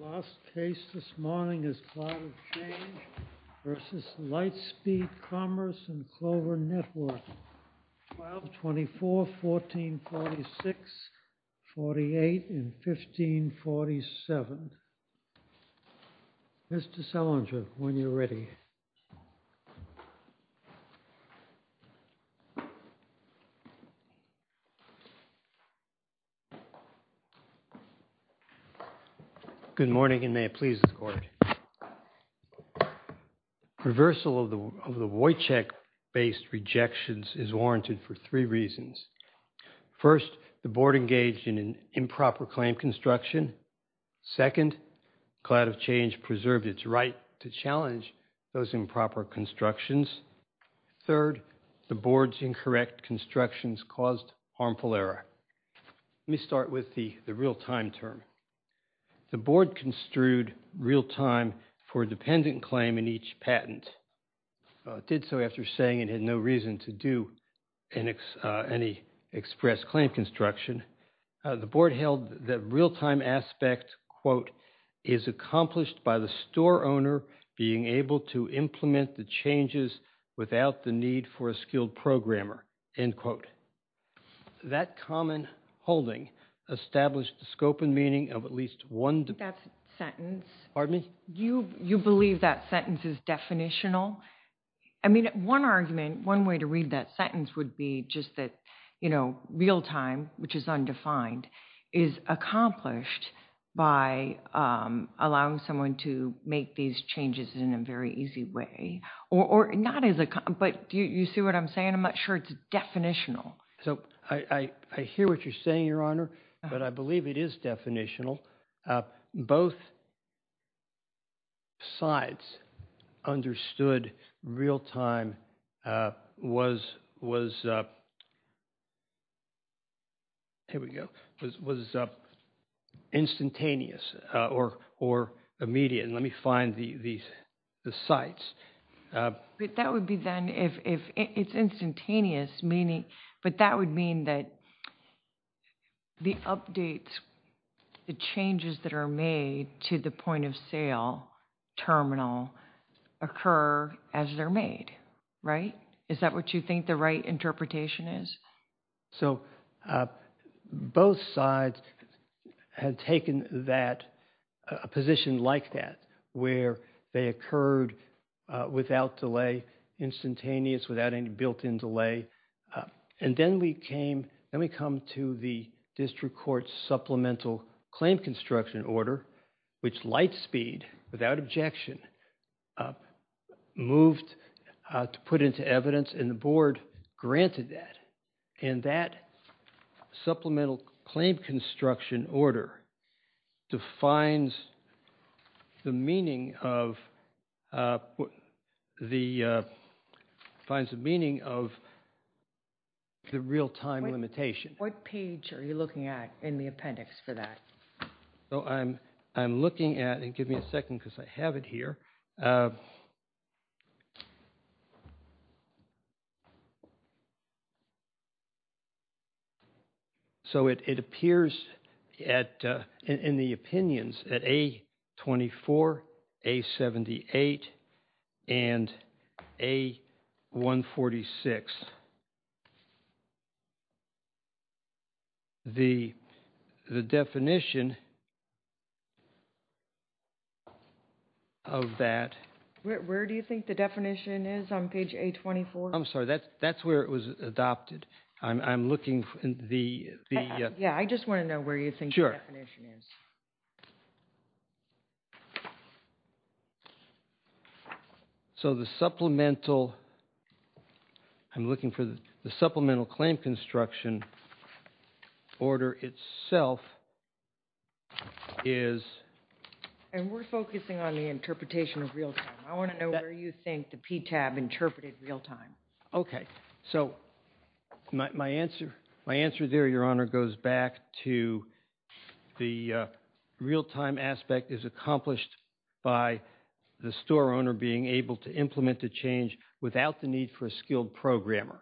The last case this morning is Cloud of Change v. Lightspeed Commerce & Clover Network, 12-24-1446-48-1547. Mr. Selinger, when you're ready. Good morning, and may it please the court. Reversal of the Wojciech-based rejections is warranted for three reasons. First, the board engaged in improper claim construction. Second, Cloud of Change preserved its right to challenge those improper constructions. Third, the board's incorrect constructions caused harmful error. Let me start with the real-time term. The board construed real-time for a dependent claim in each patent. It did so after saying it had no reason to do any express claim construction. In addition, the board held that real-time aspect, quote, is accomplished by the store owner being able to implement the changes without the need for a skilled programmer, end quote. That common holding established the scope and meaning of at least one- That sentence- Pardon me? You believe that sentence is definitional? I mean, one argument, one way to read that sentence would be just that, you know, real-time, which is undefined, is accomplished by allowing someone to make these changes in a very easy way, or not as a- But do you see what I'm saying? I'm not sure it's definitional. So I hear what you're saying, Your Honor, but I believe it is definitional. Both sides understood real-time was, here we go, was instantaneous or immediate. And let me find the sides. That would be then if it's instantaneous, meaning, but that would mean that the updates, the changes that are made to the point of sale terminal occur as they're made, right? Is that what you think the right interpretation is? So both sides had taken that, a position like that, where they occurred without delay, instantaneous, without any built-in delay. And then we came, then we come to the district court supplemental claim construction order, which Lightspeed, without objection, moved to put into evidence and the board granted that. And that supplemental claim construction order defines the meaning of the real-time limitation. What page are you looking at in the appendix for that? So I'm looking at it. Give me a second because I have it here. So it appears at in the opinions at A24, A78 and A146. The definition of that. Where do you think the definition is on page A24? I'm sorry, that's where it was adopted. I'm looking in the. Yeah, I just want to know where you think the definition is. So the supplemental, I'm looking for the supplemental claim construction order itself is. And we're focusing on the interpretation of real-time. I want to know where you think the PTAB interpreted real-time. OK, so my answer, my answer there, Your Honor, goes back to the real-time aspect is accomplished by the store owner being able to implement the change without the need for a skilled programmer.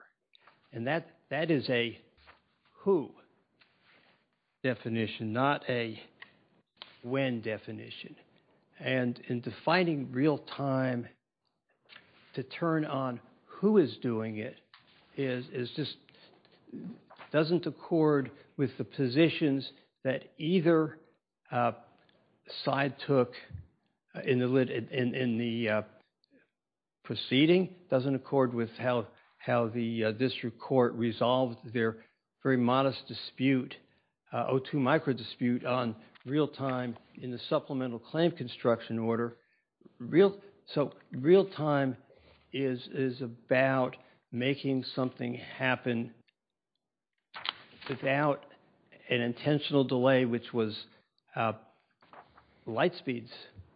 And that that is a who definition, not a when definition. And in defining real-time to turn on who is doing it is just doesn't accord with the positions that either side took in the proceeding. Doesn't accord with how how the district court resolved their very modest dispute. O2 micro dispute on real-time in the supplemental claim construction order. So real-time is about making something happen without an intentional delay, which was Lightspeed's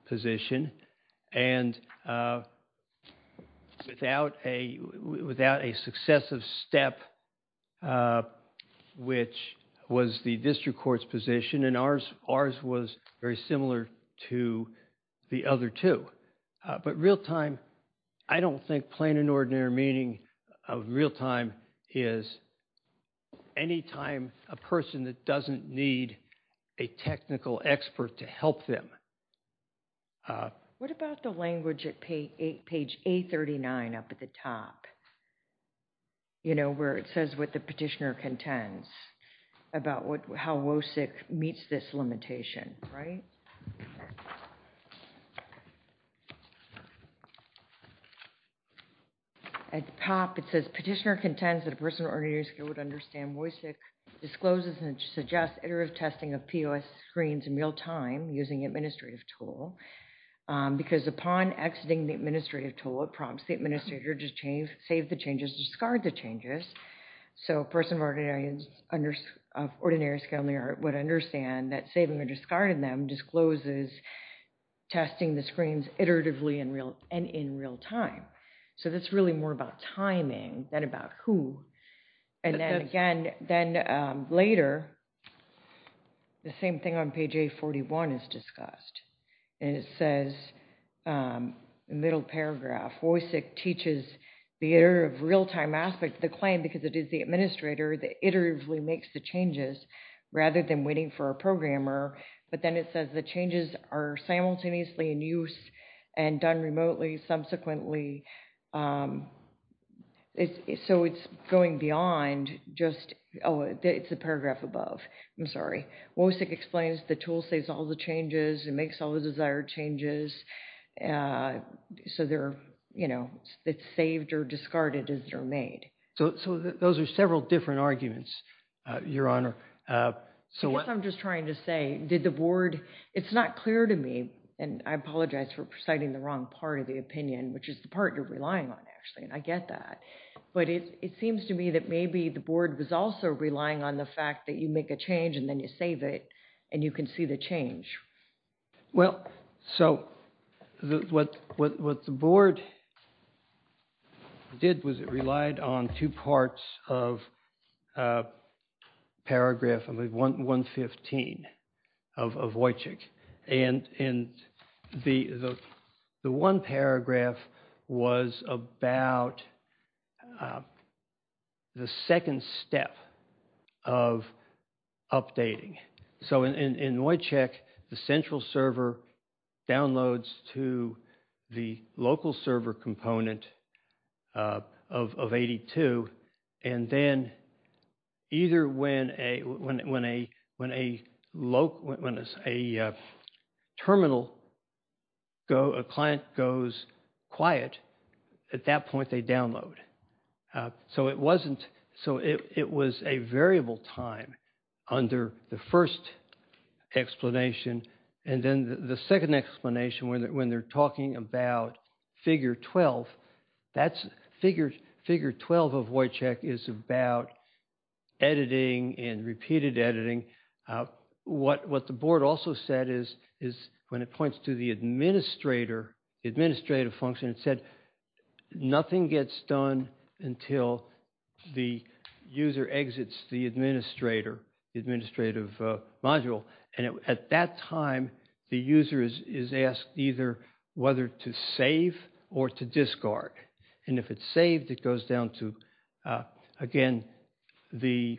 position and without a without a successive step, which was the district court's position. And ours, ours was very similar to the other two. But real-time, I don't think plain and ordinary meaning of real-time is any time a person that doesn't need a technical expert to help them. What about the language at page 839 up at the top? You know where it says what the petitioner contends about what how WOSIC meets this limitation, right? At the top, it says petitioner contends that a person of ordinary skill would understand WOSIC discloses and suggests iterative testing of POS screens in real-time using administrative tool. Because upon exiting the administrative tool, it prompts the administrator to save the changes, discard the changes. So a person of ordinary skill would understand that saving or discarding them discloses testing the screens iteratively and in real-time. So that's really more about timing than about who. And then again, then later, the same thing on page 841 is discussed. And it says, middle paragraph, WOSIC teaches the iterative real-time aspect of the claim because it is the administrator that iteratively makes the changes rather than waiting for a programmer. But then it says the changes are simultaneously in use and done remotely subsequently. So it's going beyond just, oh, it's a paragraph above. I'm sorry. WOSIC explains the tool saves all the changes and makes all the desired changes. So they're, you know, it's saved or discarded as they're made. So those are several different arguments, Your Honor. I guess I'm just trying to say, did the board, it's not clear to me, and I apologize for citing the wrong part of the opinion, which is the part you're relying on, actually, and I get that. But it seems to me that maybe the board was also relying on the fact that you make a change and then you save it and you can see the change. Well, so what the board did was it relied on two parts of paragraph 115 of Wojciech. And the one paragraph was about the second step of updating. So in Wojciech, the central server downloads to the local server component of 82. And then either when a local, when a terminal, a client goes quiet, at that point they download. So it wasn't, so it was a variable time under the first explanation. And then the second explanation, when they're talking about figure 12, that's figure 12 of Wojciech is about editing and repeated editing. What the board also said is when it points to the administrator, administrative function, it said nothing gets done until the user exits the administrator, administrative module. And at that time, the user is asked either whether to save or to discard. And if it's saved, it goes down to, again, the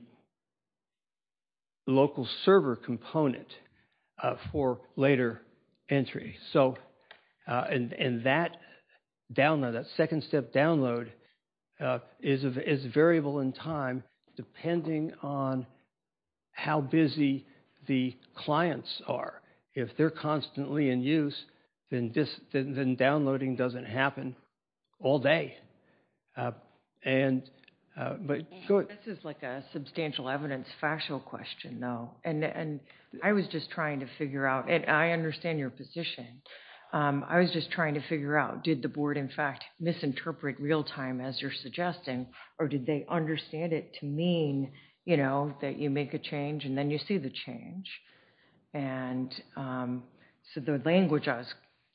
local server component for later entry. So, and that download, that second step download is variable in time depending on how busy the clients are. If they're constantly in use, then downloading doesn't happen all day. And, but go ahead. This is like a substantial evidence factual question, though. And I was just trying to figure out, and I understand your position. I was just trying to figure out, did the board, in fact, misinterpret real time as you're suggesting? Or did they understand it to mean, you know, that you make a change and then you see the change? And so the language I was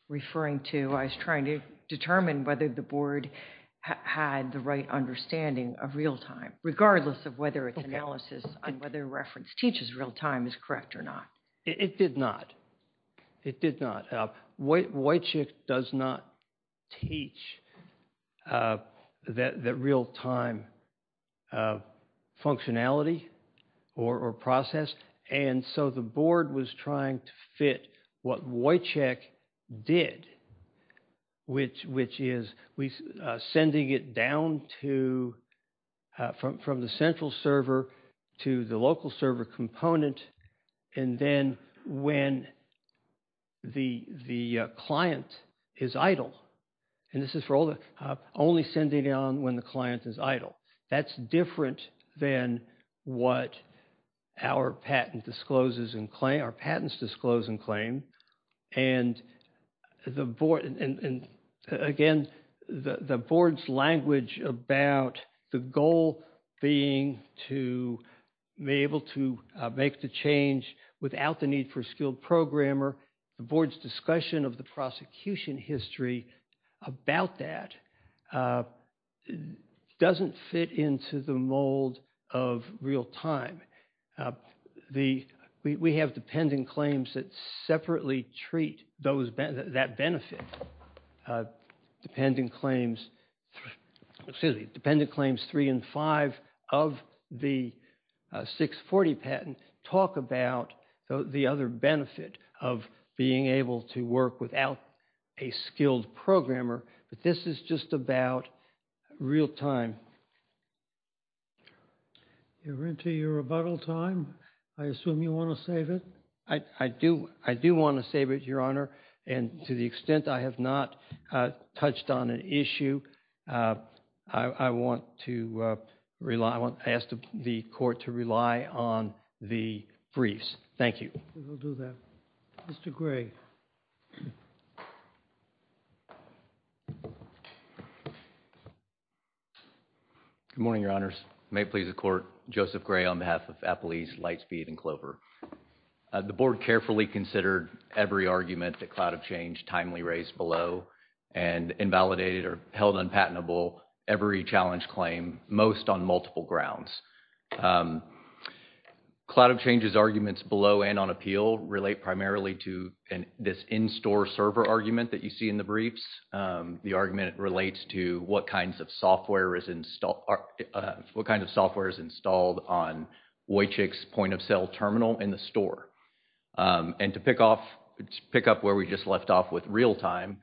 referring to, I was trying to determine whether the board had the right understanding of real time, regardless of whether it's analysis and whether reference teaches real time is correct or not. It did not. It did not. Wojciech does not teach that real time functionality or process. And so the board was trying to fit what Wojciech did, which is sending it down to, from the central server to the local server component. And then when the client is idle. And this is for only sending it on when the client is idle. That's different than what our patent discloses and claim, our patents disclose and claim. And again, the board's language about the goal being to be able to make the change without the need for a skilled programmer, the board's discussion of the prosecution history about that doesn't fit into the mold of real time. We have dependent claims that separately treat that benefit. Dependent claims three and five of the 640 patent talk about the other benefit of being able to work without a skilled programmer. But this is just about real time. You're into your rebuttal time. I assume you want to save it. I do. I do want to save it, Your Honor. And to the extent I have not touched on an issue, I want to ask the court to rely on the briefs. Thank you. We'll do that. Mr. Gray. Good morning, Your Honors. May it please the court. Joseph Gray on behalf of Eppley's Lightspeed and Clover. The board carefully considered every argument that Cloud of Change timely raised below and invalidated or held unpatentable every challenge claim, most on multiple grounds. Cloud of Change's arguments below and on appeal relate primarily to this in-store server argument that you see in the briefs. The argument relates to what kinds of software is installed on Wojciech's point of sale terminal in the store. And to pick up where we just left off with real time,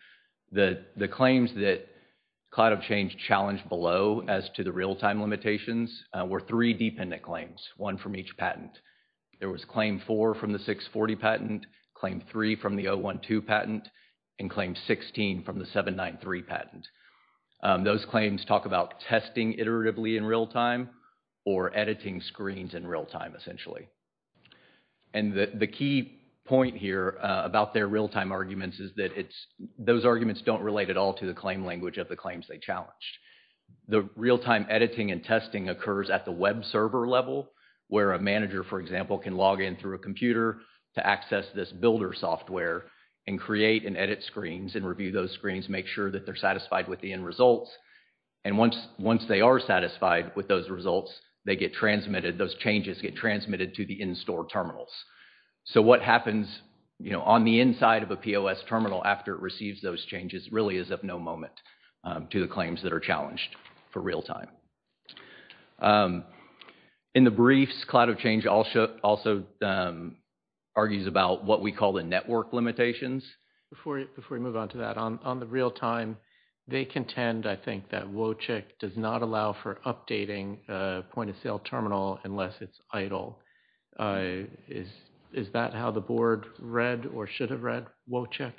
the claims that Cloud of Change challenged below as to the real time limitations were three dependent claims, one from each patent. There was claim four from the 640 patent, claim three from the 012 patent, and claim 16 from the 793 patent. Those claims talk about testing iteratively in real time or editing screens in real time, essentially. And the key point here about their real time arguments is that those arguments don't relate at all to the claim language of the claims they challenged. The real time editing and testing occurs at the web server level where a manager, for example, can log in through a computer to access this builder software and create and edit screens and review those screens, make sure that they're satisfied with the end results. And once they are satisfied with those results, they get transmitted, those changes get transmitted to the in-store terminals. So what happens on the inside of a POS terminal after it receives those changes really is of no moment to the claims that are challenged for real time. In the briefs, Cloud of Change also argues about what we call the network limitations. Before we move on to that, on the real time, they contend, I think, that Wojcik does not allow for updating a point of sale terminal unless it's idle. Is that how the board read or should have read Wojcik?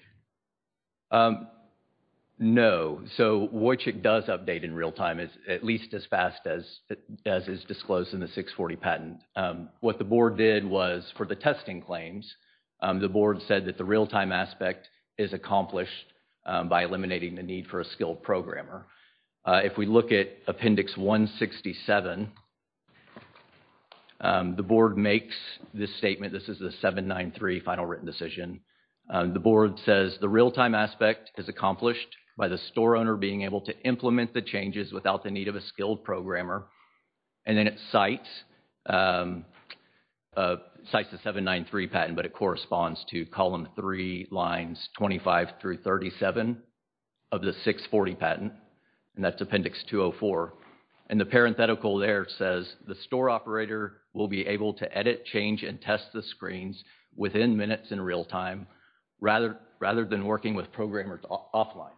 No. So Wojcik does update in real time, at least as fast as is disclosed in the 640 patent. What the board did was for the testing claims, the board said that the real time aspect is accomplished by eliminating the need for a skilled programmer. If we look at appendix 167, the board makes this statement. This is the 793 final written decision. The board says the real time aspect is accomplished by the store owner being able to implement the changes without the need of a skilled programmer. And then it cites the 793 patent, but it corresponds to column 3 lines 25 through 37 of the 640 patent. And that's appendix 204. And the parenthetical there says the store operator will be able to edit, change, and test the screens within minutes in real time rather than working with programmers offline.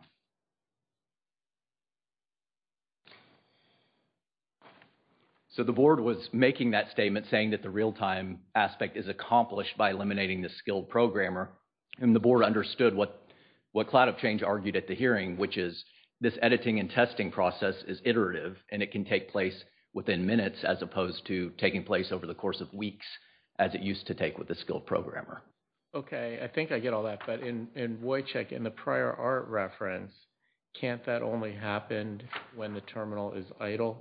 So the board was making that statement saying that the real time aspect is accomplished by eliminating the skilled programmer. And the board understood what cloud of change argued at the hearing, which is this editing and testing process is iterative. And it can take place within minutes as opposed to taking place over the course of weeks as it used to take with a skilled programmer. Okay, I think I get all that. But in Wojciech, in the prior art reference, can't that only happen when the terminal is idle?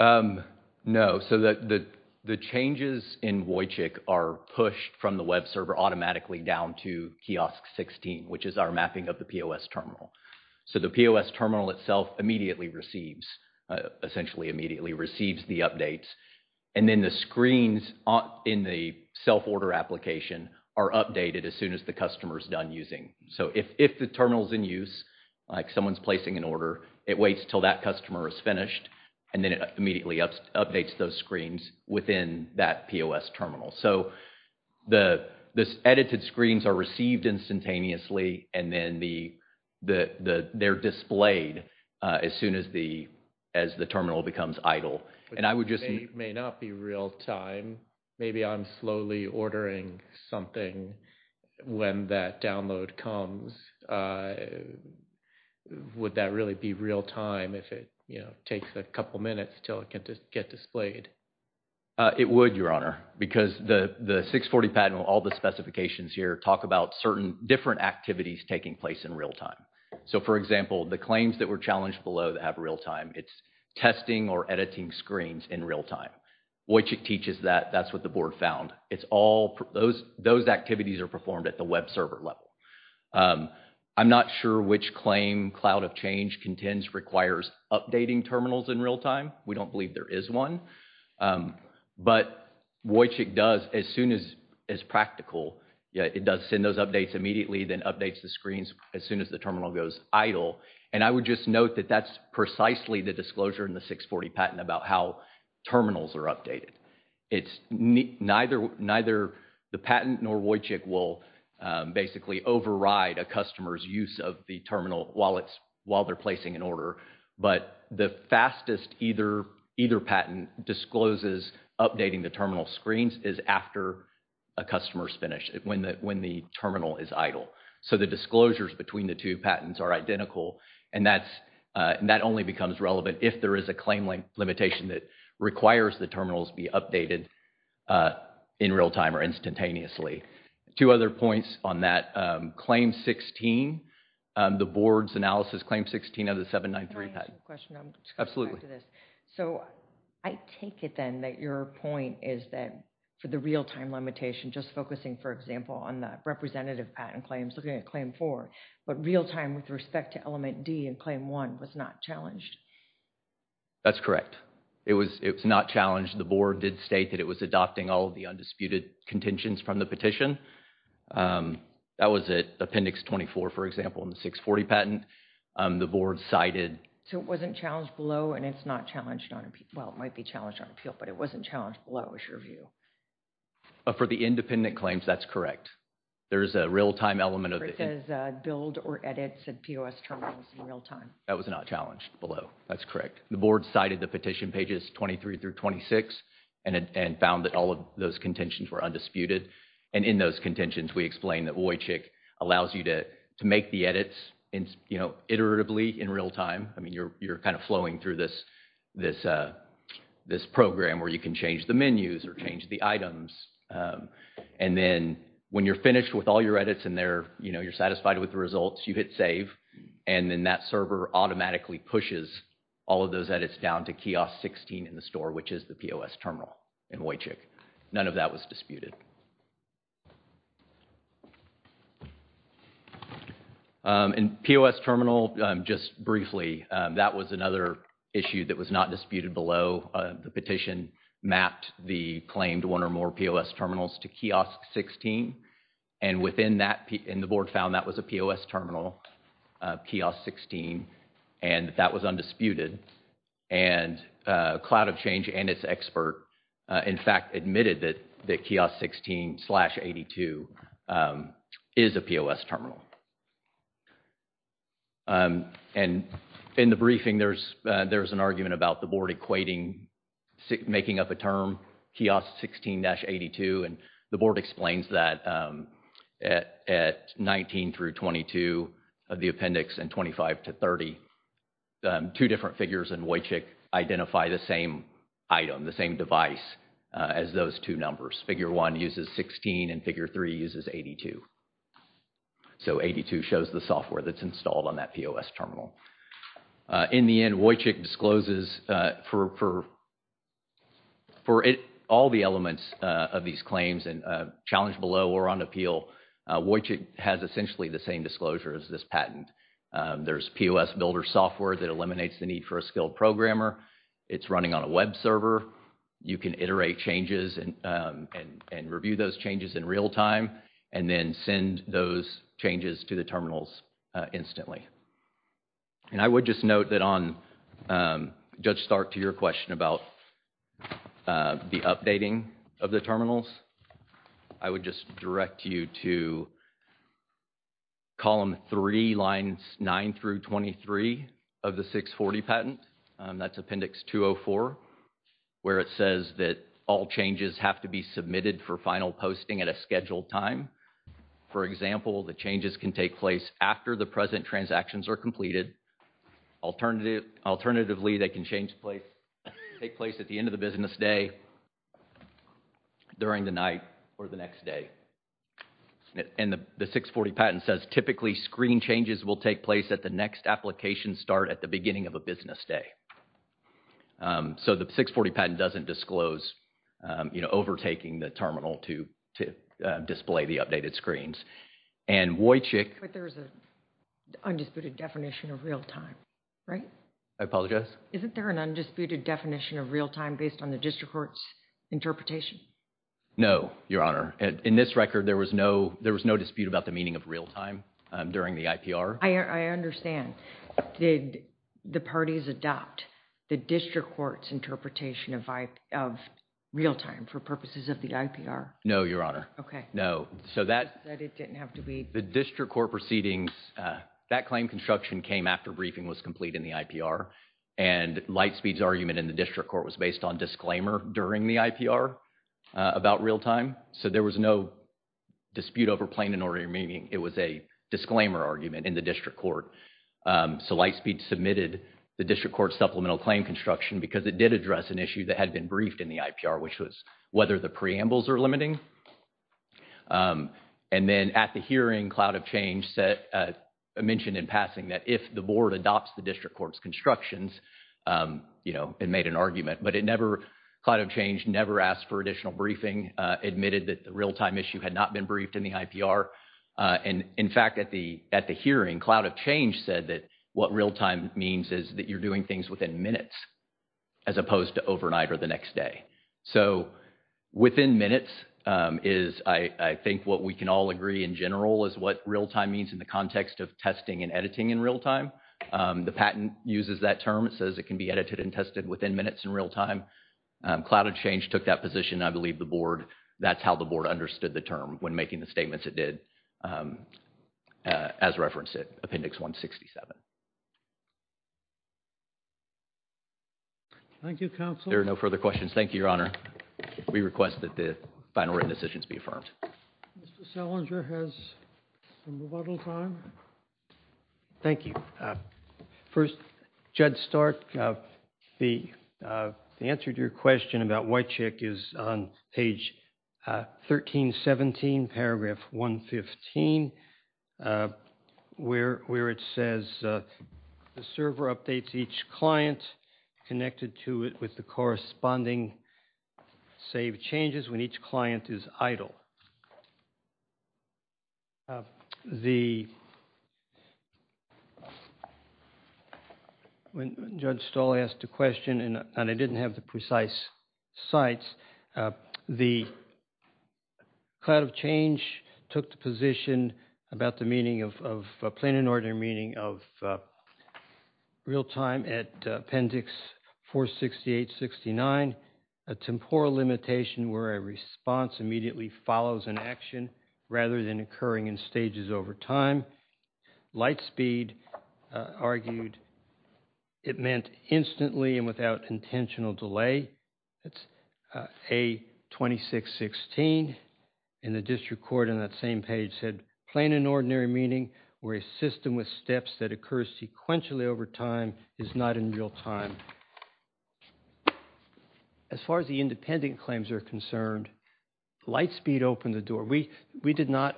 No. So the changes in Wojciech are pushed from the web server automatically down to kiosk 16, which is our mapping of the POS terminal. So the POS terminal itself immediately receives, essentially immediately receives the updates. And then the screens in the self-order application are updated as soon as the customer is done using. So if the terminal is in use, like someone's placing an order, it waits until that customer is finished. And then it immediately updates those screens within that POS terminal. So the edited screens are received instantaneously. And then they're displayed as soon as the terminal becomes idle. It may not be real-time. Maybe I'm slowly ordering something when that download comes. Would that really be real-time if it takes a couple minutes until it can get displayed? It would, Your Honor, because the 640 patent, all the specifications here talk about certain different activities taking place in real-time. So, for example, the claims that were challenged below that have real-time, it's testing or editing screens in real-time. Wojciech teaches that. That's what the board found. Those activities are performed at the web server level. I'm not sure which claim Cloud of Change contends requires updating terminals in real-time. We don't believe there is one. But Wojciech does, as soon as practical, it does send those updates immediately, then updates the screens as soon as the terminal goes idle. And I would just note that that's precisely the disclosure in the 640 patent about how terminals are updated. It's neither the patent nor Wojciech will basically override a customer's use of the terminal while they're placing an order. But the fastest either patent discloses updating the terminal screens is after a customer's finish, when the terminal is idle. So the disclosures between the two patents are identical. And that only becomes relevant if there is a claim limitation that requires the terminals be updated in real-time or instantaneously. Two other points on that. Claim 16, the board's analysis claim 16 of the 793 patent. Can I ask a question? Absolutely. So I take it then that your point is that for the real-time limitation, just focusing, for example, on the representative patent claims, looking at Claim 4, but real-time with respect to Element D and Claim 1 was not challenged. That's correct. It was not challenged. The board did state that it was adopting all of the undisputed contentions from the petition. That was at Appendix 24, for example, in the 640 patent. The board cited. So it wasn't challenged below and it's not challenged on appeal. Well, it might be challenged on appeal, but it wasn't challenged below, is your view? For the independent claims, that's correct. There's a real-time element of it. It says build or edit said POS terminals in real-time. That was not challenged below. That's correct. The board cited the petition pages 23 through 26 and found that all of those contentions were undisputed. And in those contentions, we explained that OYCHIC allows you to make the edits iteratively in real-time. I mean, you're kind of flowing through this program where you can change the menus or change the items. And then when you're finished with all your edits and you're satisfied with the results, you hit save. And then that server automatically pushes all of those edits down to kiosk 16 in the store, which is the POS terminal in OYCHIC. None of that was disputed. And POS terminal, just briefly, that was another issue that was not disputed below. The petition mapped the claimed one or more POS terminals to kiosk 16. And the board found that was a POS terminal, kiosk 16, and that was undisputed. And Cloud of Change and its expert, in fact, admitted that kiosk 16-82 is a POS terminal. And in the briefing, there's an argument about the board equating, making up a term, kiosk 16-82. And the board explains that at 19 through 22 of the appendix and 25 to 30, two different figures in OYCHIC identify the same item, the same device as those two numbers. Figure 1 uses 16 and figure 3 uses 82. So 82 shows the software that's installed on that POS terminal. In the end, OYCHIC discloses for all the elements of these claims and challenge below or on appeal, OYCHIC has essentially the same disclosure as this patent. There's POS builder software that eliminates the need for a skilled programmer. It's running on a web server. You can iterate changes and review those changes in real time and then send those changes to the terminals instantly. And I would just note that on Judge Stark to your question about the updating of the terminals, I would just direct you to column 3, lines 9 through 23 of the 640 patent. That's appendix 204 where it says that all changes have to be submitted for final posting at a scheduled time. For example, the changes can take place after the present transactions are completed. Alternatively, they can take place at the end of the business day, during the night or the next day. And the 640 patent says typically screen changes will take place at the next application start at the beginning of a business day. So the 640 patent doesn't disclose overtaking the terminal to display the updated screens. And OYCHIC… But there's an undisputed definition of real time, right? I apologize? Isn't there an undisputed definition of real time based on the district court's interpretation? No, Your Honor. In this record, there was no dispute about the meaning of real time during the IPR. I understand. Did the parties adopt the district court's interpretation of real time for purposes of the IPR? No, Your Honor. Okay. No, so that… That it didn't have to be… The district court proceedings, that claim construction came after briefing was complete in the IPR. And Lightspeed's argument in the district court was based on disclaimer during the IPR about real time. So there was no dispute over plain and ordinary meaning. It was a disclaimer argument in the district court. So Lightspeed submitted the district court's supplemental claim construction because it did address an issue that had been briefed in the IPR, which was whether the preambles are limiting. And then at the hearing, Cloud of Change mentioned in passing that if the board adopts the district court's constructions, you know, it made an argument. But it never… Cloud of Change never asked for additional briefing, admitted that the real time issue had not been briefed in the IPR. And, in fact, at the hearing, Cloud of Change said that what real time means is that you're doing things within minutes, as opposed to overnight or the next day. So within minutes is, I think, what we can all agree in general is what real time means in the context of testing and editing in real time. The patent uses that term. It says it can be edited and tested within minutes in real time. Cloud of Change took that position. I believe the board… That's how the board understood the term when making the statements it did as referenced in Appendix 167. Thank you, Counsel. There are no further questions. Thank you, Your Honor. We request that the final written decisions be affirmed. Mr. Salinger has some rebuttal time. Thank you. First, Judge Stark, the answer to your question about Whitecheck is on page 1317, paragraph 115, where it says the server updates each client connected to it with the corresponding save changes when each client is idle. When Judge Stoll asked the question, and I didn't have the precise sites, the Cloud of Change took the position about the meaning of a plain and ordinary meaning of real time at Appendix 46869, a temporal limitation where a response immediately follows an action rather than occurring in stages over time. Lightspeed argued it meant instantly and without intentional delay. That's A2616. And the district court on that same page said plain and ordinary meaning where a system with steps that occurs sequentially over time is not in real time. As far as the independent claims are concerned, Lightspeed opened the door. We did not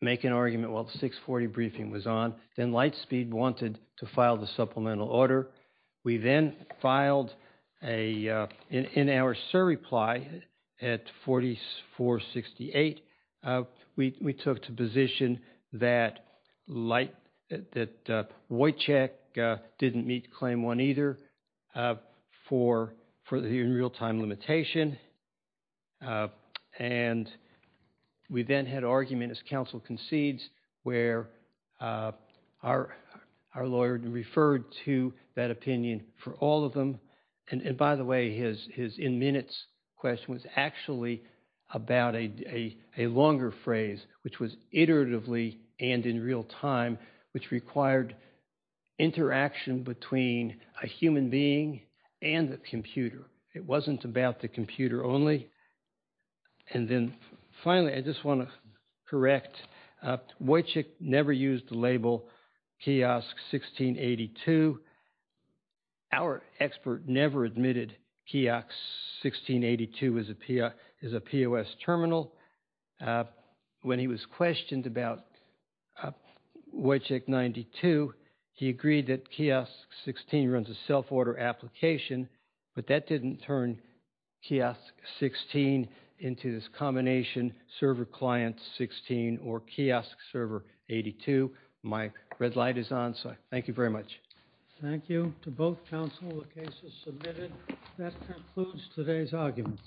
make an argument while the 640 briefing was on. Then Lightspeed wanted to file the supplemental order. We then filed a, in our SIR reply at 4468, we took to position that Whitecheck didn't meet claim one either. For the real time limitation. And we then had argument as counsel concedes where our lawyer referred to that opinion for all of them. And by the way, his in minutes question was actually about a longer phrase, which was iteratively and in real time, which required interaction between a human being and the computer. It wasn't about the computer only. And then finally, I just want to correct. Whitecheck never used the label kiosk 1682. Our expert never admitted kiosk 1682 is a POS terminal. When he was questioned about Whitecheck 92, he agreed that kiosk 16 runs a self-order application. But that didn't turn kiosk 16 into this combination server client 16 or kiosk server 82. My red light is on. So thank you very much. Thank you to both counsel. The case is submitted. That concludes today's arguments.